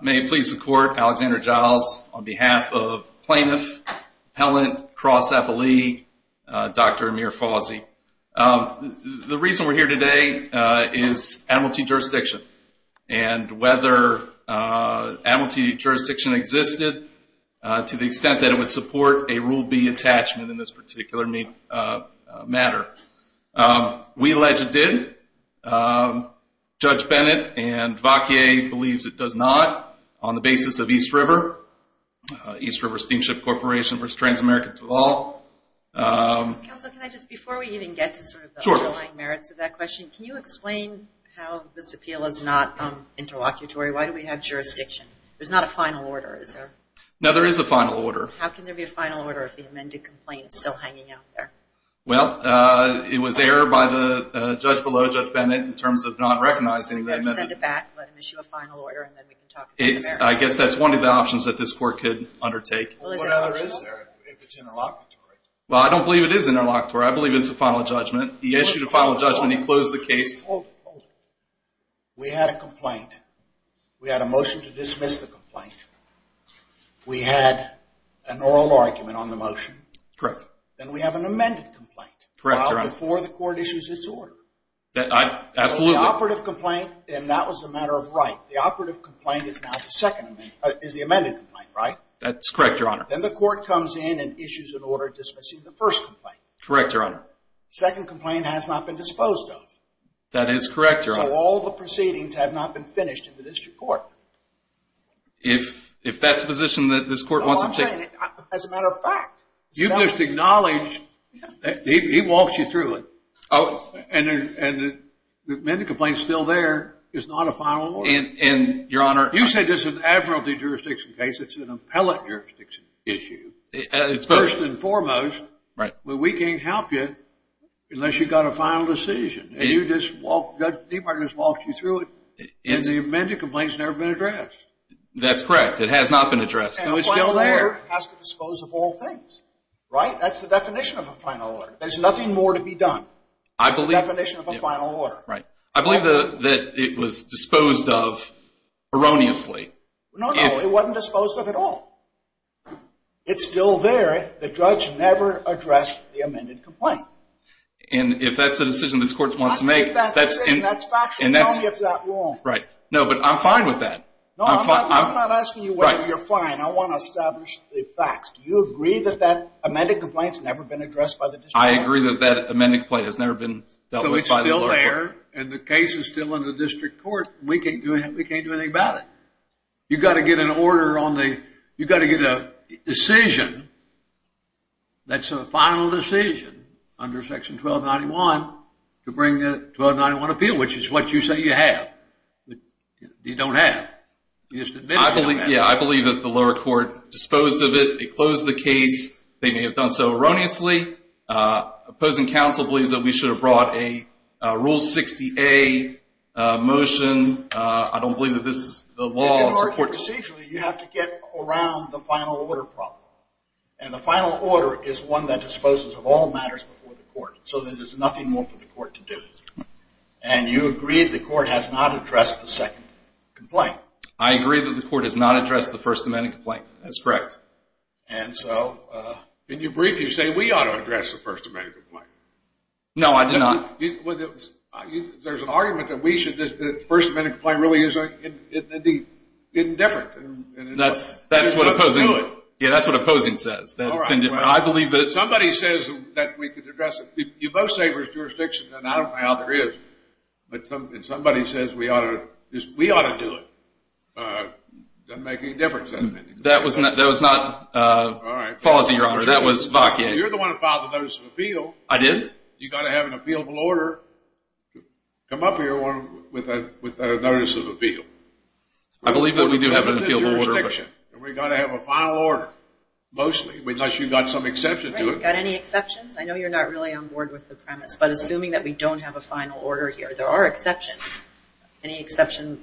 May it please the court, Alexander Giles, on behalf of plaintiff, appellant, cross-appellee, Dr. Amir Fawzy. The reason we're here today is amnesty jurisdiction. And whether amnesty jurisdiction exists or not, to the extent that it would support a Rule B attachment in this particular matter. We allege it did. Judge Bennett and Wauquiez believes it does not. On the basis of East River, East River Steamship Corporation v. Transamerica Toll. Counsel, can I just, before we even get to sort of the underlying merits of that question, can you explain how this appeal is not interlocutory? Why do we have jurisdiction? There's not a final order, is there? No, there is a final order. How can there be a final order if the amended complaint is still hanging out there? Well, it was error by the judge below, Judge Bennett, in terms of not recognizing the amendment. So we're going to send it back, let him issue a final order, and then we can talk about the amendment. I guess that's one of the options that this court could undertake. Well, what other is there if it's interlocutory? Well, I don't believe it is interlocutory. I believe it's a final judgment. He issued a final judgment. He closed the case. We had a complaint. We had a motion to dismiss the complaint. We had an oral argument on the motion. Correct. Then we have an amended complaint. Correct, Your Honor. Not before the court issues its order. Absolutely. So the operative complaint, and that was a matter of right. The operative complaint is the amended complaint, right? That's correct, Your Honor. Then the court comes in and issues an order dismissing the first complaint. Correct, Your Honor. Second complaint has not been disposed of. That is correct, Your Honor. So all the proceedings have not been finished in the district court. If that's the position that this court wants to take. No, I'm saying as a matter of fact. You must acknowledge that he walks you through it. Oh. And the amended complaint is still there. It's not a final order. And, Your Honor. You said this is an admiralty jurisdiction case. It's an appellate jurisdiction issue. It's first. First and foremost. Right. Well, we can't help you unless you've got a final decision. And you just walk. Judge Debar just walked you through it. And the amended complaint has never been addressed. That's correct. It has not been addressed. No, it's still there. And a final order has to dispose of all things. Right? That's the definition of a final order. There's nothing more to be done. I believe. That's the definition of a final order. Right. I believe that it was disposed of erroneously. No, no. It wasn't disposed of at all. It's still there. The judge never addressed the amended complaint. And if that's the decision this court wants to make. If that's the decision, that's factual. Tell me if that's wrong. Right. No, but I'm fine with that. No, I'm not asking you whether you're fine. I want to establish the facts. Do you agree that that amended complaint has never been addressed by the district court? I agree that that amended complaint has never been dealt with by the district court. So it's still there. And the case is still in the district court. We can't do anything about it. You've got to get an order on the... That's a final decision under Section 1291 to bring a 1291 appeal, which is what you say you have. You don't have. I believe that the lower court disposed of it. They closed the case. They may have done so erroneously. Opposing counsel believes that we should have brought a Rule 60A motion. I don't believe that this is the law. Procedurally, you have to get around the final order problem, and the final order is one that disposes of all matters before the court so that there's nothing more for the court to do. And you agree the court has not addressed the second complaint. I agree that the court has not addressed the First Amendment complaint. That's correct. And so... In your brief, you say we ought to address the First Amendment complaint. No, I did not. There's an argument that the First Amendment complaint really is indifferent. That's what opposing says, that it's indifferent. Somebody says that we could address it. You both say there's jurisdiction, and I don't know how there is. But somebody says we ought to do it. It doesn't make any difference. That was not Fawzi, Your Honor. That was Vahki. You're the one who filed the Notice of Appeal. I did? You've got to have an appealable order to come up here with a Notice of Appeal. I believe that we do have an appealable order. We've got to have a final order, mostly, unless you've got some exception to it. Right. You've got any exceptions? I know you're not really on board with the premise, but assuming that we don't have a final order here, there are exceptions. Any exception?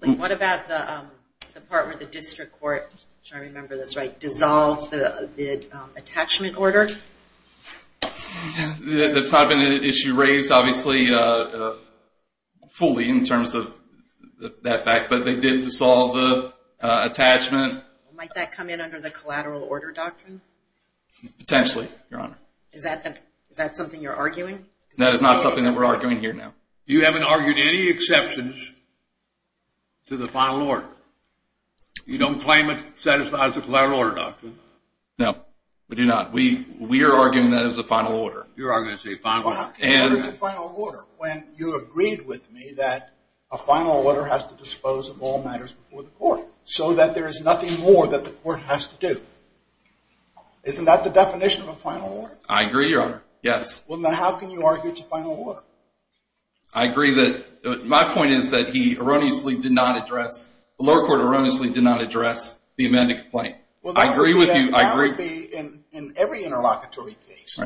What about the part where the district court, I'm sure I remember this right, did attachment order? That's not been an issue raised, obviously, fully in terms of that fact. But they did dissolve the attachment. Might that come in under the collateral order doctrine? Potentially, Your Honor. Is that something you're arguing? That is not something that we're arguing here now. You haven't argued any exceptions to the final order. You don't claim it satisfies the collateral order doctrine? No, we do not. We are arguing that it's a final order. You're arguing it's a final order. How can you argue it's a final order when you agreed with me that a final order has to dispose of all matters before the court so that there is nothing more that the court has to do? Isn't that the definition of a final order? I agree, Your Honor, yes. Well, now how can you argue it's a final order? I agree. My point is that he erroneously did not address, the lower court erroneously did not address the amended complaint. I agree with you. That would be in every interlocutory case.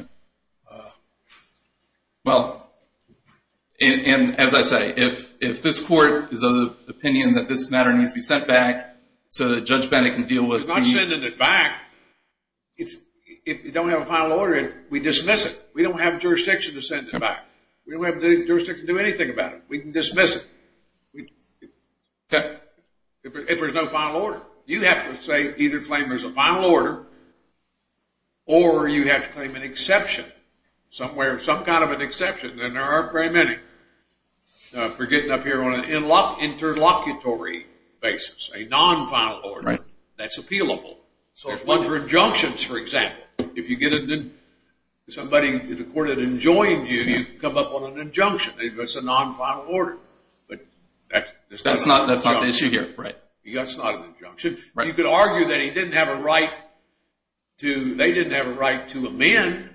Well, and as I say, if this court is of the opinion that this matter needs to be sent back so that Judge Bennett can deal with it. He's not sending it back. If you don't have a final order, we dismiss it. We don't have jurisdiction to send it back. We don't have jurisdiction to do anything about it. We can dismiss it if there's no final order. You have to say either claim there's a final order or you have to claim an exception somewhere, some kind of an exception, and there are very many for getting up here on an interlocutory basis, a non-final order that's appealable. So if one's for injunctions, for example, if you get somebody in the court that enjoined you, you come up on an injunction. It's a non-final order. But that's not an injunction. That's not the issue here, right. That's not an injunction. You could argue that he didn't have a right to amend,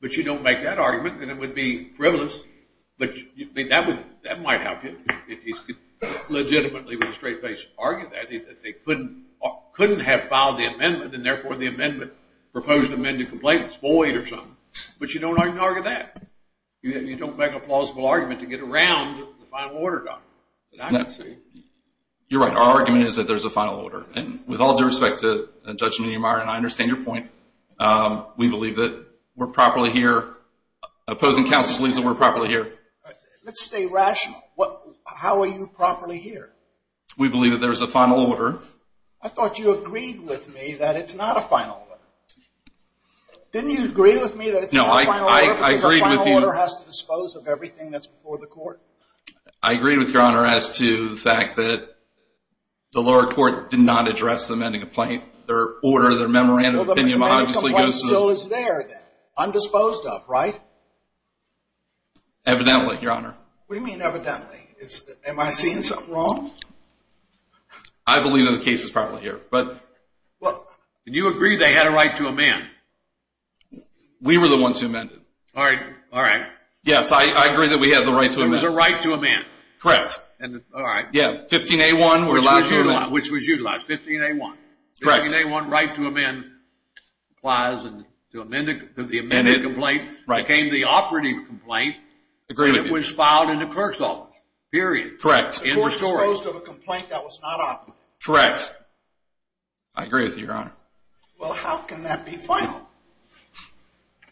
but you don't make that argument, and it would be frivolous. But that might help you. If he could legitimately with a straight face argue that, he couldn't have filed the amendment, and therefore the amendment proposed to amend the complaint was void or something. But you don't argue that. You don't make a plausible argument to get around the final order document. You're right. Our argument is that there's a final order. And with all due respect to Judge Neumeier and I, I understand your point. We believe that we're properly here. Opposing counsel believes that we're properly here. Let's stay rational. How are you properly here? We believe that there's a final order. I thought you agreed with me that it's not a final order. Didn't you agree with me that it's not a final order? No, I agreed with you. Because a final order has to dispose of everything that's before the court? I agreed with Your Honor as to the fact that the lower court did not address amending a complaint. Their order, their memorandum of opinion, obviously goes to the... Well, the memorandum of opinion still is there then, undisposed of, right? Evidently, Your Honor. What do you mean evidently? Am I seeing something wrong? I believe that the case is properly here. Do you agree they had a right to amend? We were the ones who amended. All right. Yes, I agree that we had the right to amend. There was a right to amend. Correct. All right. 15A1, which was utilized. 15A1. Correct. 15A1, right to amend, applies to the amended complaint, became the operative complaint. Agreed with you. And it was filed in the clerk's office, period. Correct. And restored. The court was opposed to a complaint that was not operative. Correct. I agree with you, Your Honor. Well, how can that be final?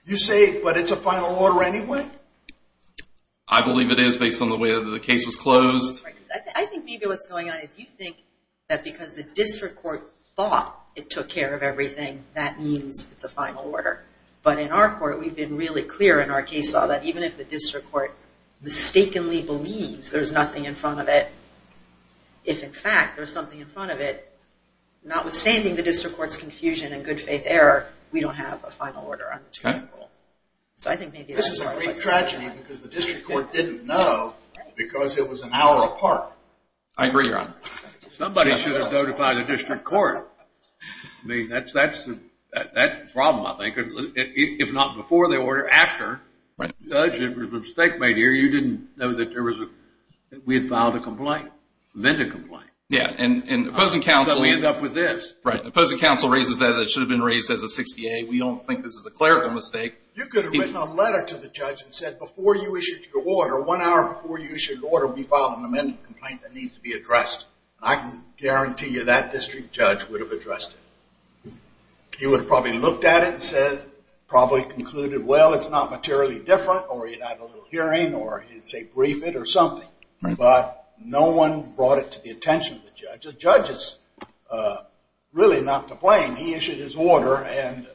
You say, but it's a final order anyway? I believe it is based on the way that the case was closed. I think maybe what's going on is you think that because the district court thought it took care of everything, that means it's a final order. But in our court, we've been really clear in our case law that even if the district court mistakenly believes there's nothing in front of it, if in fact there's something in front of it, notwithstanding the district court's confusion and good-faith error, we don't have a final order. This is a great tragedy because the district court didn't know because it was an hour apart. I agree, Your Honor. Somebody should have notified the district court. I mean, that's the problem, I think. If not before the order, after. Judge, it was a mistake made here. You didn't know that we had filed a complaint, amended a complaint. Yeah, and opposing counsel raises that it should have been raised as a 68. We don't think this is a clerical mistake. You could have written a letter to the judge and said before you issued your order, one hour before you issued your order, we filed an amended complaint that needs to be addressed. I can guarantee you that district judge would have addressed it. He would have probably looked at it and said, probably concluded, well, it's not materially different, or he'd have a little hearing, or he'd say brief it or something. But no one brought it to the attention of the judge. The judge is really not to blame. He issued his order, and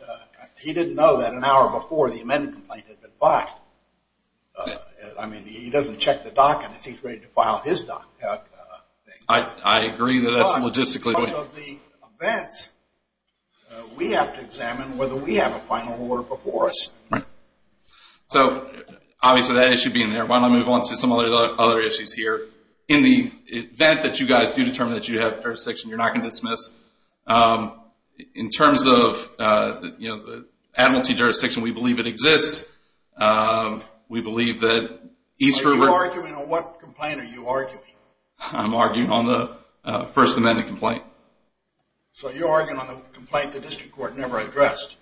he didn't know that an hour before the amended complaint had been filed. I mean, he doesn't check the docket as he's ready to file his docket. I agree that that's logistically. Because of the events, we have to examine whether we have a final order before us. Right. So obviously that issue being there, why don't I move on to some of the other issues here. In the event that you guys do determine that you have jurisdiction, you're not going to dismiss. In terms of the administrative jurisdiction, we believe it exists. We believe that East River. Are you arguing on what complaint are you arguing? I'm arguing on the First Amendment complaint. So you're arguing on the complaint the district court never addressed.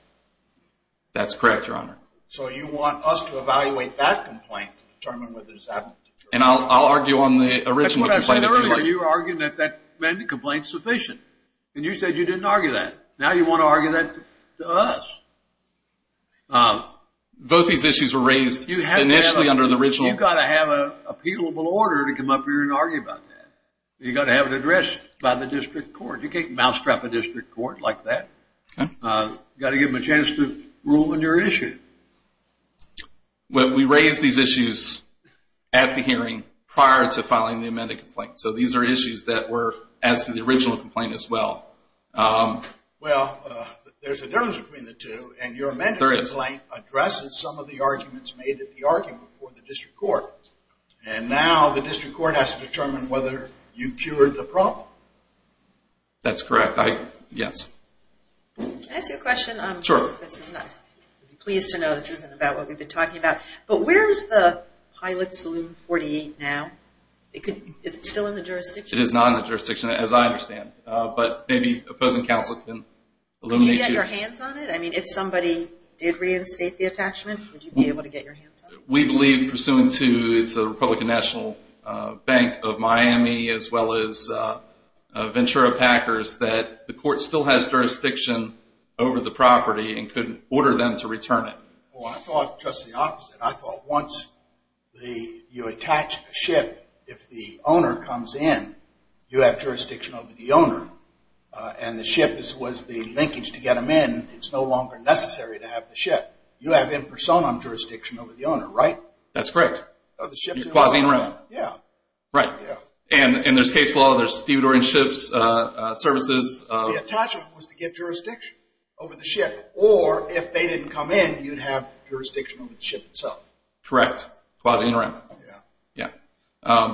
That's correct, Your Honor. So you want us to evaluate that complaint to determine whether it's administrative. And I'll argue on the original complaint issue. That's what I said earlier. You were arguing that that amended complaint is sufficient. And you said you didn't argue that. Now you want to argue that to us. Both these issues were raised initially under the original. You've got to have an appealable order to come up here and argue about that. You've got to have it addressed by the district court. You can't mousetrap a district court like that. You've got to give them a chance to rule on your issue. We raised these issues at the hearing prior to filing the amended complaint. So these are issues that were as to the original complaint as well. Well, there's a difference between the two. And your amended complaint addresses some of the arguments made at the argument before the district court. And now the district court has to determine whether you cured the problem. That's correct, yes. Can I ask you a question? Sure. I'd be pleased to know this isn't about what we've been talking about. But where is the Pilot Saloon 48 now? Is it still in the jurisdiction? It is not in the jurisdiction, as I understand. But maybe opposing counsel can illuminate you. Would you be able to get your hands on it? I mean, if somebody did reinstate the attachment, would you be able to get your hands on it? We believe, pursuant to the Republican National Bank of Miami, as well as Ventura Packers, that the court still has jurisdiction over the property and could order them to return it. Well, I thought just the opposite. I thought once you attach a ship, if the owner comes in, you have jurisdiction over the owner. And the ship was the linkage to get them in. It's no longer necessary to have the ship. You have in personam jurisdiction over the owner, right? That's correct. You're quasi in rem. Yeah. Right. And there's case law. There's Theodore and Shipp's services. The attachment was to get jurisdiction over the ship. Or if they didn't come in, you'd have jurisdiction over the ship itself. Correct. Quasi in rem. Yeah.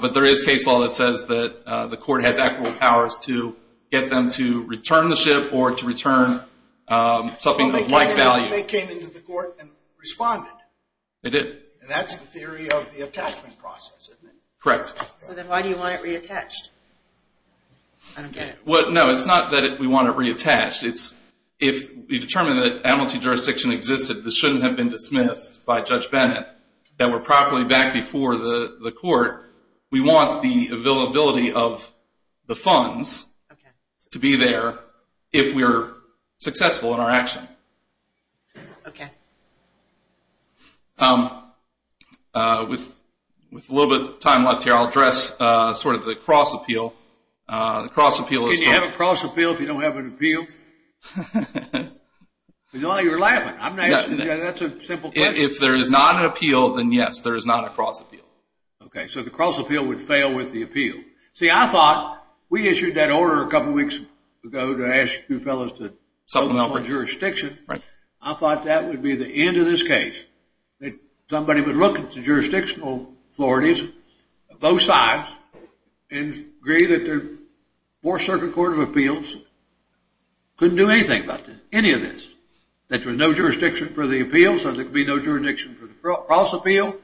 But there is case law that says that the court has equitable powers to get them to return the ship or to return something of like value. Well, they came into the court and responded. They did. And that's the theory of the attachment process, isn't it? Correct. So then why do you want it reattached? I don't get it. No, it's not that we want it reattached. If we determine that amnesty jurisdiction existed, this shouldn't have been dismissed by Judge Bennett, that we're properly back before the court, we want the availability of the funds to be there if we're successful in our action. Okay. With a little bit of time left here, I'll address sort of the cross-appeal. Can you have a cross-appeal if you don't have an appeal? You're laughing. That's a simple question. If there is not an appeal, then, yes, there is not a cross-appeal. Okay. So the cross-appeal would fail with the appeal. See, I thought we issued that order a couple weeks ago to ask you fellows to vote for jurisdiction. I thought that would be the end of this case, that somebody would look at the jurisdictional authorities, both sides, and agree that the Fourth Circuit Court of Appeals couldn't do anything about any of this, that there was no jurisdiction for the appeal, so there could be no jurisdiction for the cross-appeal,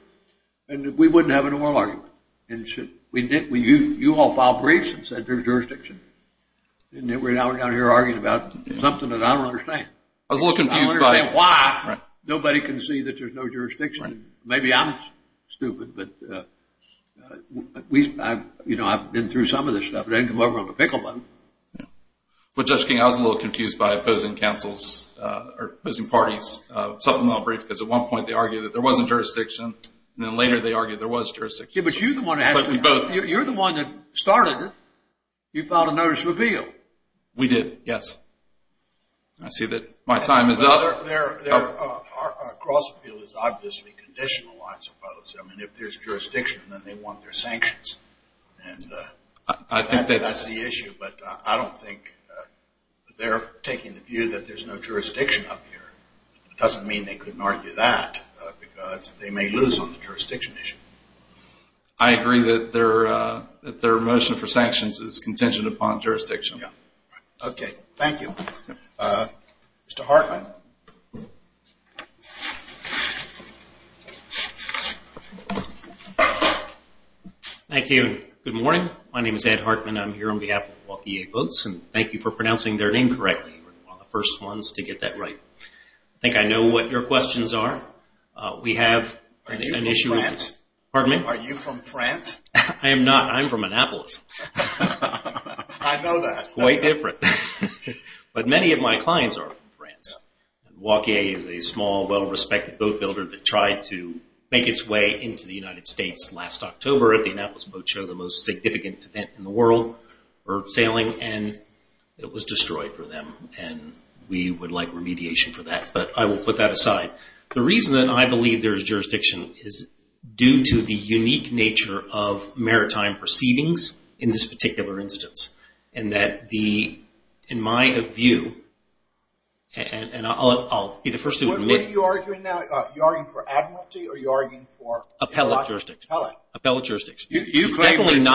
and that we wouldn't have an oral argument. And you all filed briefs and said there's jurisdiction. And now we're down here arguing about something that I don't understand. I was a little confused by it. I don't understand why nobody can see that there's no jurisdiction. Maybe I'm stupid, but, you know, I've been through some of this stuff. I didn't come over on the pickle button. Well, Judge King, I was a little confused by opposing councils or opposing parties. At one point they argued that there wasn't jurisdiction, and then later they argued there was jurisdiction. Yeah, but you're the one that started it. You filed a notice of appeal. We did, yes. I see that my time is up. Well, their cross-appeal is obviously conditional, I suppose. I mean, if there's jurisdiction, then they want their sanctions. I think that's the issue, but I don't think they're taking the view that there's no jurisdiction up here. It doesn't mean they couldn't argue that, because they may lose on the jurisdiction issue. I agree that their motion for sanctions is contingent upon jurisdiction. Yeah. Okay. Thank you. Mr. Hartman? Thank you. Good morning. My name is Ed Hartman. I'm here on behalf of Waukee Votes, and thank you for pronouncing their name correctly. You were one of the first ones to get that right. I think I know what your questions are. We have an issue with- Are you from France? Pardon me? Are you from France? I am not. I'm from Annapolis. I know that. That's quite different. But many of my clients are from France. Waukee is a small, well-respected boat builder that tried to make its way into the United States last October at the Annapolis Boat Show, the most significant event in the world for sailing, and it was destroyed for them, and we would like remediation for that. But I will put that aside. The reason that I believe there is jurisdiction is due to the unique nature of maritime proceedings in this particular instance and that the, in my view, and I'll be the first to- What are you arguing now? Are you arguing for admiralty or are you arguing for- Appellate jurisdiction. Appellate. Appellate jurisdiction. You claim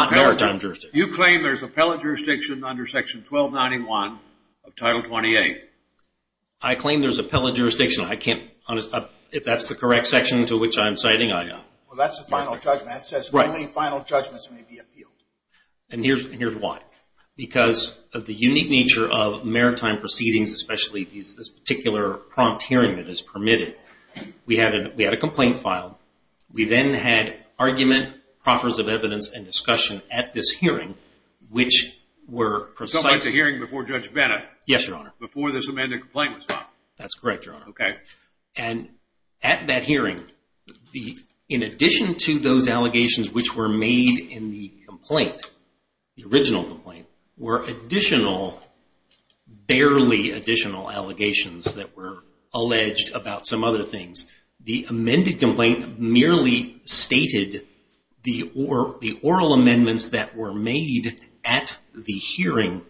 there's appellate jurisdiction under Section 1291 of Title 28. I claim there's appellate jurisdiction. I can't, if that's the correct section to which I'm citing, I- Well, that's the final judgment. That says only final judgments may be appealed. And here's why. Because of the unique nature of maritime proceedings, especially this particular prompt hearing that is permitted, we had a complaint filed. We then had argument, proffers of evidence, and discussion at this hearing, which were precise- So it was a hearing before Judge Bennett- Yes, Your Honor. Before this amended complaint was filed. That's correct, Your Honor. Okay. And at that hearing, in addition to those allegations which were made in the complaint, the original complaint, were additional, barely additional allegations that were alleged about some other things. The amended complaint merely stated the oral amendments that were made at the hearing,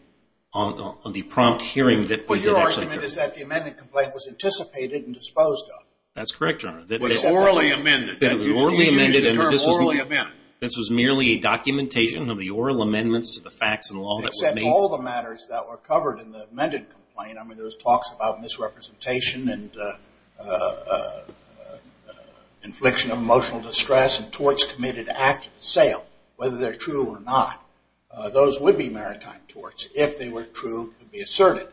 on the prompt hearing that- The argument is that the amended complaint was anticipated and disposed of. That's correct, Your Honor. It was orally amended. It was orally amended and this was merely a documentation of the oral amendments to the facts and law that were made- Except all the matters that were covered in the amended complaint. I mean, there was talks about misrepresentation and infliction of emotional distress and torts committed after the sale, whether they're true or not. Those would be maritime torts if they were true to be asserted.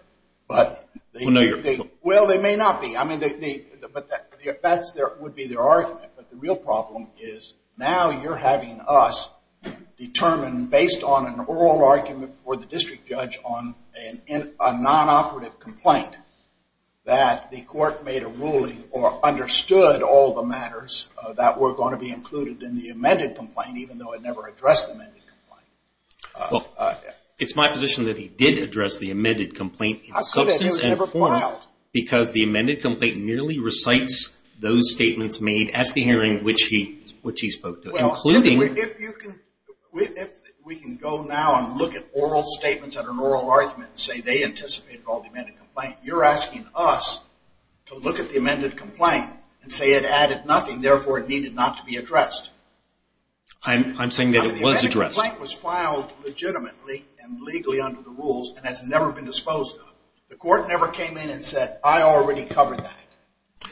Well, no, Your Honor. Well, they may not be. I mean, that would be their argument, but the real problem is now you're having us determine, based on an oral argument for the district judge on a non-operative complaint, that the court made a ruling or understood all the matters that were going to be included in the amended complaint, even though it never addressed the amended complaint. Well, it's my position that he did address the amended complaint in substance and form because the amended complaint nearly recites those statements made at the hearing which he spoke to, including- Well, if we can go now and look at oral statements at an oral argument and say they anticipated all the amended complaint, you're asking us to look at the amended complaint and say it added nothing, therefore it needed not to be addressed. I'm saying that it was addressed. The amended complaint was filed legitimately and legally under the rules and has never been disposed of. The court never came in and said, I already covered that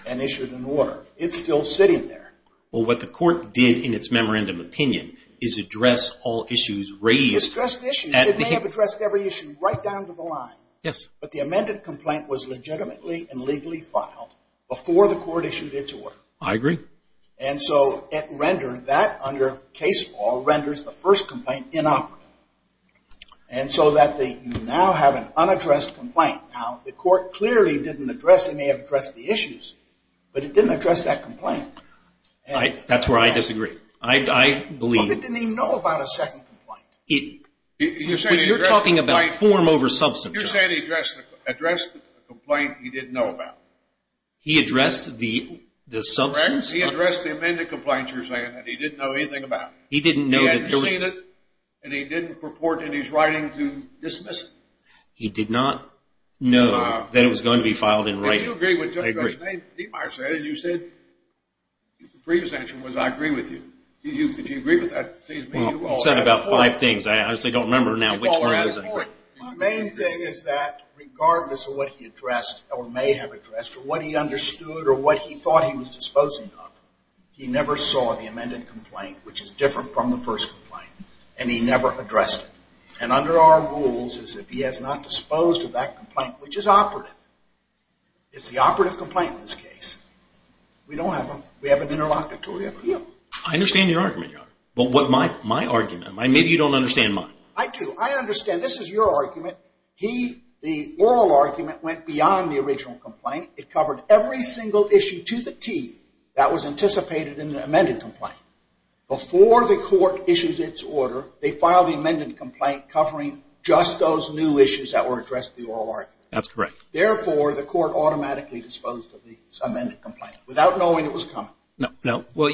and issued an order. It's still sitting there. Well, what the court did in its memorandum opinion is address all issues raised- Addressed issues. It may have addressed every issue right down to the line. Yes. But the amended complaint was legitimately and legally filed before the court issued its order. I agree. And so it rendered that, under case law, renders the first complaint inoperative. And so that you now have an unaddressed complaint. Now, the court clearly didn't address it. It may have addressed the issues, but it didn't address that complaint. That's where I disagree. I believe- Well, it didn't even know about a second complaint. You're talking about form over substance. You're saying he addressed the complaint he didn't know about. He addressed the substance? He addressed the amended complaint, you're saying, that he didn't know anything about. He didn't know that there was- He hadn't seen it, and he didn't purport in his writing to dismiss it. He did not know that it was going to be filed in writing. I agree. Did you agree with what Judge Demeyer said? You said the previous answer was I agree with you. Did you agree with that? Well, he said about five things. I honestly don't remember now which one it was. My main thing is that regardless of what he addressed or may have addressed or what he understood or what he thought he was disposing of, he never saw the amended complaint, which is different from the first complaint, and he never addressed it. And under our rules is if he has not disposed of that complaint, which is operative, it's the operative complaint in this case, we don't have an interlocutory appeal. I understand your argument, Your Honor. But my argument, maybe you don't understand mine. I do. I understand. This is your argument. The oral argument went beyond the original complaint. It covered every single issue to the T that was anticipated in the amended complaint. Before the court issues its order, they file the amended complaint covering just those new issues that were addressed in the oral argument. That's correct. Therefore, the court automatically disposed of this amended complaint without knowing it was coming. No. Well,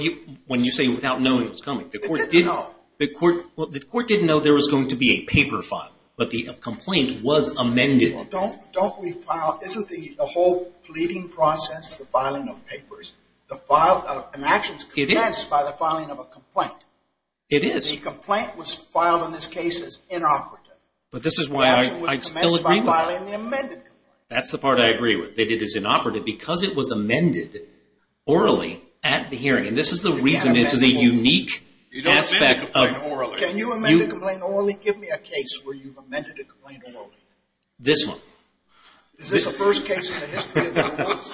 when you say without knowing it was coming, the court didn't know there was going to be a paper file, but the complaint was amended. Don't we file, isn't the whole pleading process, the filing of papers, an action is commenced by the filing of a complaint. It is. The complaint was filed in this case as inoperative. But this is why I still agree with you. The action was commenced by filing the amended complaint. That's the part I agree with, that it is inoperative because it was amended orally at the hearing. And this is the reason this is a unique aspect. You don't amend a complaint orally. Can you amend a complaint orally? Give me a case where you've amended a complaint orally. This one. Is this the first case in the history of the United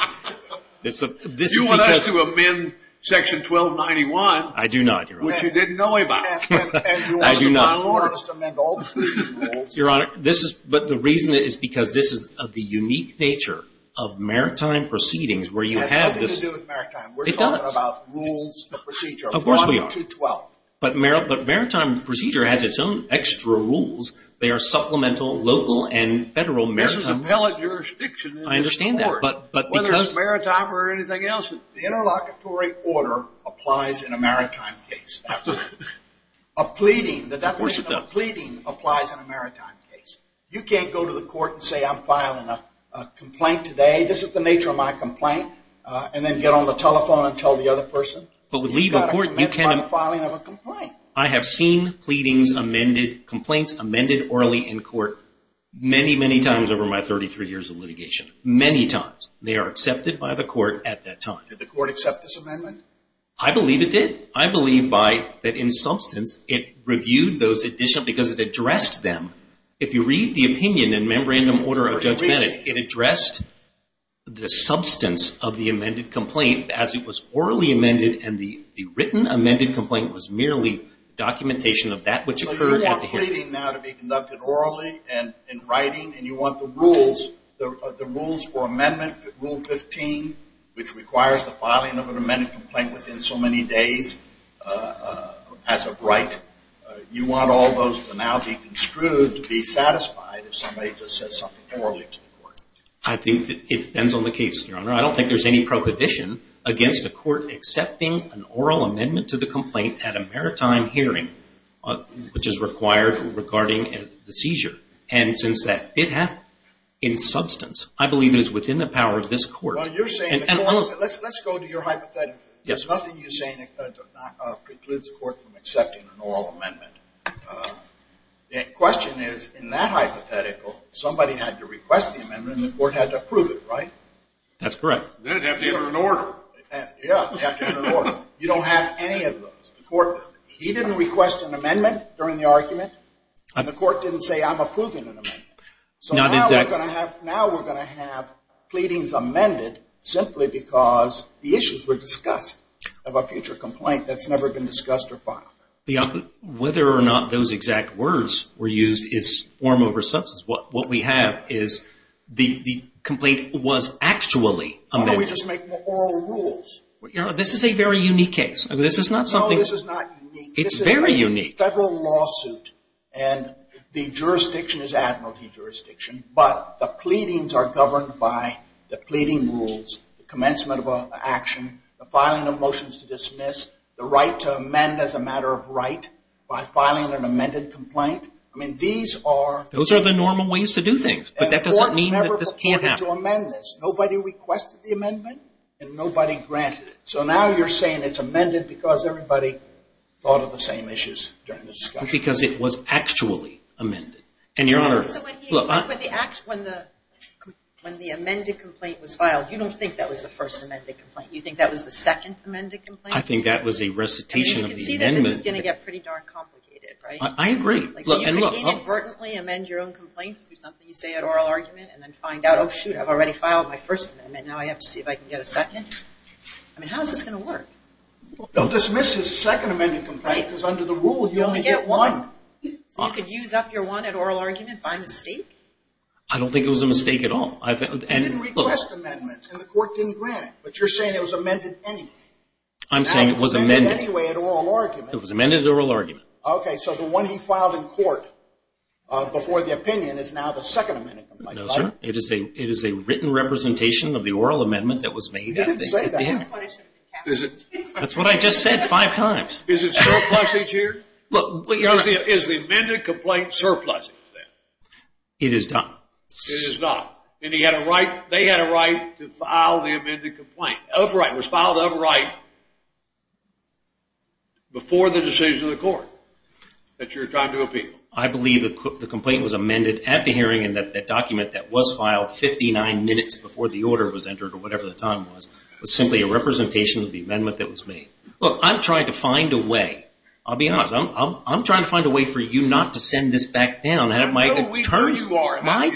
States? You want us to amend Section 1291. I do not, Your Honor. Which you didn't know about. I do not. And you want us to file an order. You want us to amend all the rules. Your Honor, the reason is because this is of the unique nature of maritime proceedings where you have this. It has nothing to do with maritime. It does. We're talking about rules of procedure. Of course we are. Section 12. But maritime procedure has its own extra rules. They are supplemental local and federal maritime rules. There's a valid jurisdiction in this court. I understand that. Whether it's maritime or anything else. The interlocutory order applies in a maritime case. A pleading, the definition of a pleading applies in a maritime case. You can't go to the court and say I'm filing a complaint today. This is the nature of my complaint. And then get on the telephone and tell the other person. But with legal court, you can't. You've got to commit by the filing of a complaint. I have seen pleadings amended, complaints amended orally in court many, many times over my 33 years of litigation. Many times. They are accepted by the court at that time. Did the court accept this amendment? I believe it did. I believe by that in substance it reviewed those additional because it addressed them. If you read the opinion in Memorandum Order of Judge Bennett, it addressed the substance of the amended complaint as it was orally amended and the written amended complaint was merely documentation of that which occurred at the hearing. So you want pleading now to be conducted orally and in writing, and you want the rules, the rules for amendment, Rule 15, which requires the filing of an amended complaint within so many days as of right, you want all those to now be construed to be satisfied if somebody just says something poorly to the court. I think it depends on the case, Your Honor. I don't think there's any prohibition against a court accepting an oral amendment to the complaint at a maritime hearing, which is required regarding the seizure. And since that did happen in substance, I believe it is within the power of this court. Let's go to your hypothetical. There's nothing you're saying that precludes the court from accepting an oral amendment. The question is, in that hypothetical, somebody had to request the amendment and the court had to approve it, right? That's correct. Then it'd have to enter an order. Yeah, it'd have to enter an order. You don't have any of those. He didn't request an amendment during the argument, and the court didn't say, I'm approving an amendment. Now we're going to have pleadings amended simply because the issues were discussed of a future complaint that's never been discussed or filed. Whether or not those exact words were used is form over substance. What we have is the complaint was actually amended. Why don't we just make them oral rules? This is a very unique case. No, this is not unique. It's very unique. It's a federal lawsuit, and the jurisdiction is admiralty jurisdiction, but the pleadings are governed by the pleading rules, the commencement of an action, the filing of motions to dismiss, the right to amend as a matter of right by filing an amended complaint. Those are the normal ways to do things, but that doesn't mean that this can't happen. The court never reported to amend this. Nobody requested the amendment, and nobody granted it. So now you're saying it's amended because everybody thought of the same issues during the discussion. Because it was actually amended. When the amended complaint was filed, you don't think that was the first amended complaint. You think that was the second amended complaint? I think that was a recitation of the amendment. You can see that this is going to get pretty darn complicated, right? I agree. So you can inadvertently amend your own complaint through something you say at oral argument and then find out, oh, shoot, I've already filed my first amendment. Now I have to see if I can get a second? I mean, how is this going to work? Don't dismiss his second amended complaint because under the rule, you only get one. So you could use up your one at oral argument by mistake? I don't think it was a mistake at all. You didn't request amendments, and the court didn't grant it, but you're saying it was amended anyway. I'm saying it was amended. Now it's amended anyway at oral argument. It was amended at oral argument. Okay, so the one he filed in court before the opinion is now the second amended complaint. No, sir. It is a written representation of the oral amendment that was made. You didn't say that. That's what I just said five times. Is it surplusage here? Is the amended complaint surplusage then? It is not. It is not. And he had a right, they had a right to file the amended complaint, of right, was filed of right before the decision of the court that you're trying to appeal. I believe the complaint was amended at the hearing and that document that was filed 59 minutes before the order was entered, or whatever the time was, was simply a representation of the amendment that was made. Look, I'm trying to find a way. I'll be honest. I'm trying to find a way for you not to send this back down. I know who you are. My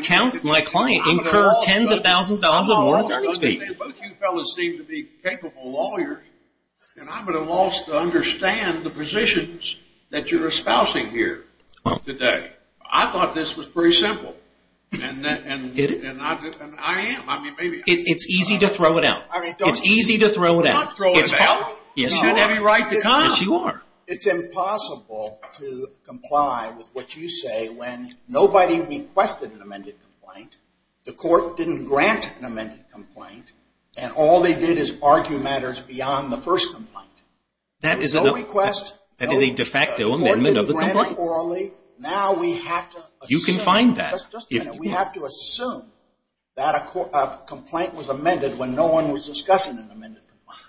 client incurred tens of thousands of dollars of moral free speech. Both you fellows seem to be capable lawyers, and I'm at a loss to understand the positions that you're espousing here today. I thought this was pretty simple, and I am. It's easy to throw it out. It's easy to throw it out. I'm not throwing it out. You should have a right to come. Yes, you are. It's impossible to comply with what you say when nobody requested an amended complaint, the court didn't grant an amended complaint, and all they did is argue matters beyond the first complaint. That is a de facto amendment of the complaint. Now we have to assume. You can find that. Just a minute. We have to assume that a complaint was amended when no one was discussing an amended complaint.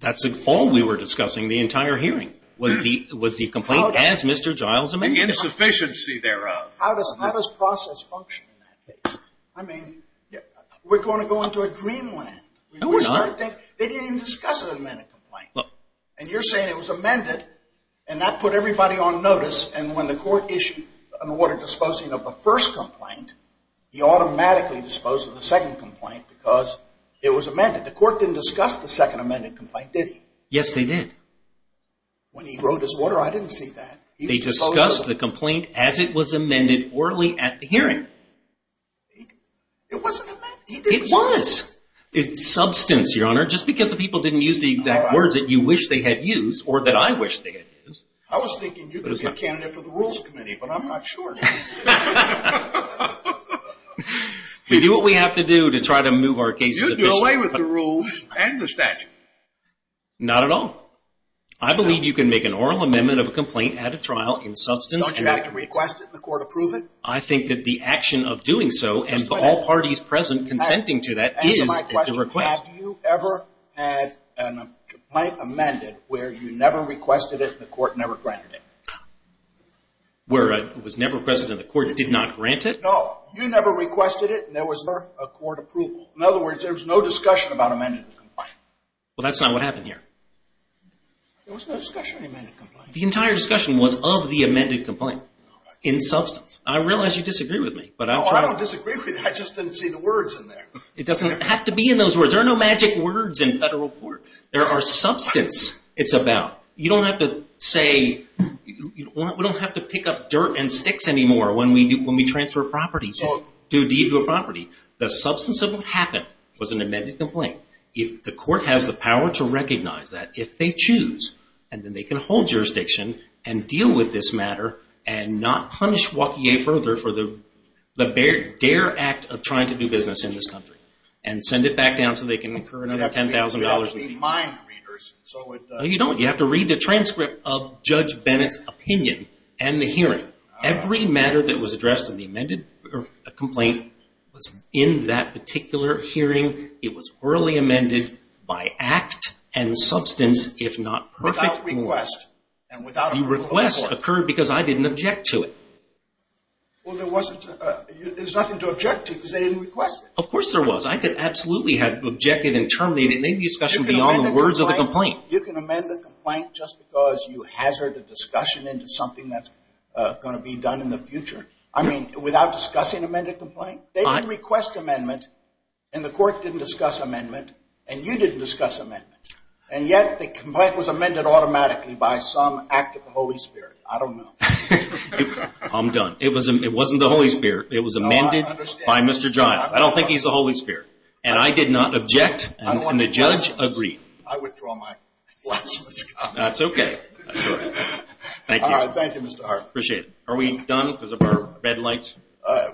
That's all we were discussing the entire hearing was the complaint as Mr. Giles amended it. The insufficiency thereof. How does process function in that case? I mean, we're going to go into a dreamland. No, we're not. They didn't even discuss an amended complaint, and you're saying it was amended, and that put everybody on notice, and when the court issued an order disposing of the first complaint, he automatically disposed of the second complaint because it was amended. The court didn't discuss the second amended complaint, did he? Yes, they did. When he wrote his order, I didn't see that. They discussed the complaint as it was amended orally at the hearing. It wasn't amended. It was. It's substance, Your Honor, just because the people didn't use the exact words that you wish they had used or that I wish they had used. I was thinking you could be a candidate for the Rules Committee, but I'm not sure. We do what we have to do to try to move our cases. You do away with the rules and the statute. Not at all. I believe you can make an oral amendment of a complaint at a trial in substance. Don't you have to request it and the court approve it? I think that the action of doing so and all parties present consenting to that is to request. Answer my question. Have you ever had a complaint amended where you never requested it and the court never granted it? Where it was never requested and the court did not grant it? No. You never requested it and there was never a court approval. In other words, there was no discussion about amending the complaint. Well, that's not what happened here. There was no discussion of the amended complaint. The entire discussion was of the amended complaint in substance. I realize you disagree with me. No, I don't disagree with you. I just didn't see the words in there. It doesn't have to be in those words. There are no magic words in federal court. There are substance it's about. You don't have to say, we don't have to pick up dirt and sticks anymore when we transfer properties to a deed to a property. The substance of what happened was an amended complaint. If the court has the power to recognize that, if they choose, and then they can hold jurisdiction and deal with this matter and not punish Waukee further for the dare act of trying to do business in this country and send it back down so they can incur another $10,000. You have to be mind readers. No, you don't. You have to read the transcript of Judge Bennett's opinion and the hearing. Every matter that was addressed in the amended complaint was in that particular hearing. It was early amended by act and substance, if not perfect. Without request. The request occurred because I didn't object to it. Well, there's nothing to object to because they didn't request it. Of course there was. I could absolutely have objected and terminated any discussion beyond the words of the complaint. You can amend the complaint just because you hazard a discussion into something that's going to be done in the future. I mean, without discussing amended complaint? They didn't request amendment, and the court didn't discuss amendment, and you didn't discuss amendment. And yet the complaint was amended automatically by some act of the Holy Spirit. I don't know. I'm done. It wasn't the Holy Spirit. It was amended by Mr. Giles. I don't think he's the Holy Spirit. And I did not object, and the judge agreed. I withdraw my last comment. That's okay. Thank you. All right. Thank you, Mr. Hartman. Appreciate it. Are we done because of our red lights?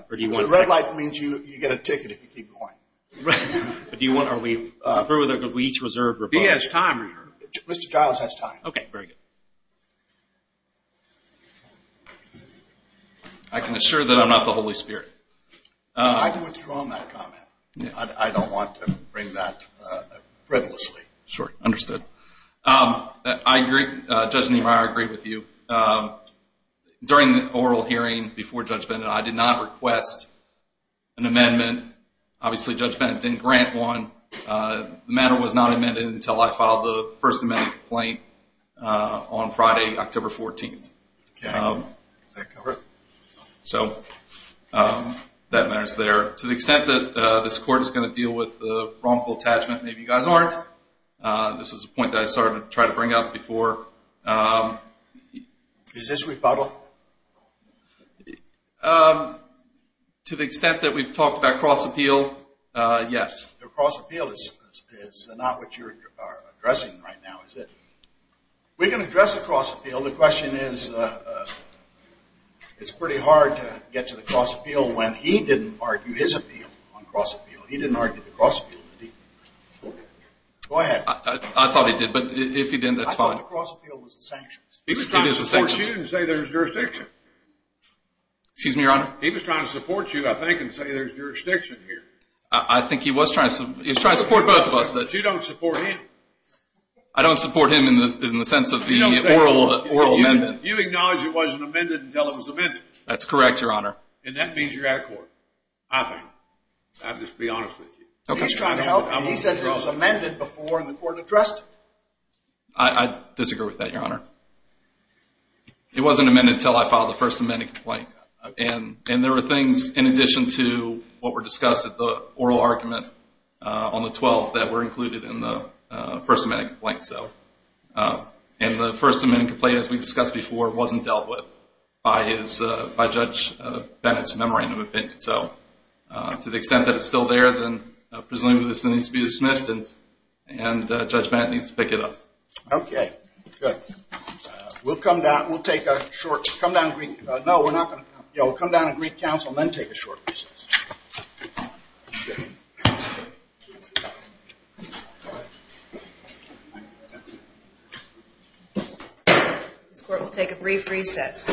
Red light means you get a ticket if you keep going. Do you want to approve or we each reserve? He has time. Mr. Giles has time. Okay. Very good. I can assure that I'm not the Holy Spirit. I withdraw my comment. I don't want to bring that frivolously. Sure. Understood. I agree. Judge Niemeyer, I agree with you. During the oral hearing before Judge Bennett, I did not request an amendment. Obviously, Judge Bennett didn't grant one. The matter was not amended until I filed the first amendment complaint on Friday, October 14th. Okay. Does that cover it? So that matters there. To the extent that this court is going to deal with the wrongful attachment, maybe you guys aren't. This is a point that I started to try to bring up before. Is this rebuttal? To the extent that we've talked about cross-appeal, yes. The cross-appeal is not what you're addressing right now, is it? We can address the cross-appeal. The question is, it's pretty hard to get to the cross-appeal when he didn't argue his appeal on cross-appeal. He didn't argue the cross-appeal. Go ahead. I thought he did, but if he didn't, that's fine. I thought the cross-appeal was the sanctions. He was trying to support you and say there's jurisdiction. Excuse me, Your Honor? He was trying to support you, I think, and say there's jurisdiction here. I think he was trying to support both of us. You don't support him. I don't support him in the sense of the oral amendment. You acknowledge it wasn't amended until it was amended. That's correct, Your Honor. And that means you're out of court, I think. I'll just be honest with you. He's trying to help. He says it was amended before the court addressed it. I disagree with that, Your Honor. It wasn't amended until I filed the First Amendment complaint. And there were things in addition to what were discussed at the oral argument on the 12th that were included in the First Amendment complaint. And the First Amendment complaint, as we discussed before, wasn't dealt with by Judge Bennett's memorandum of opinion. So to the extent that it's still there, then presumably this needs to be dismissed and Judge Bennett needs to pick it up. Okay. Good. We'll come down. We'll take a short break. No, we're not going to come down. We'll come down and brief counsel and then take a short recess. This court will take a brief recess.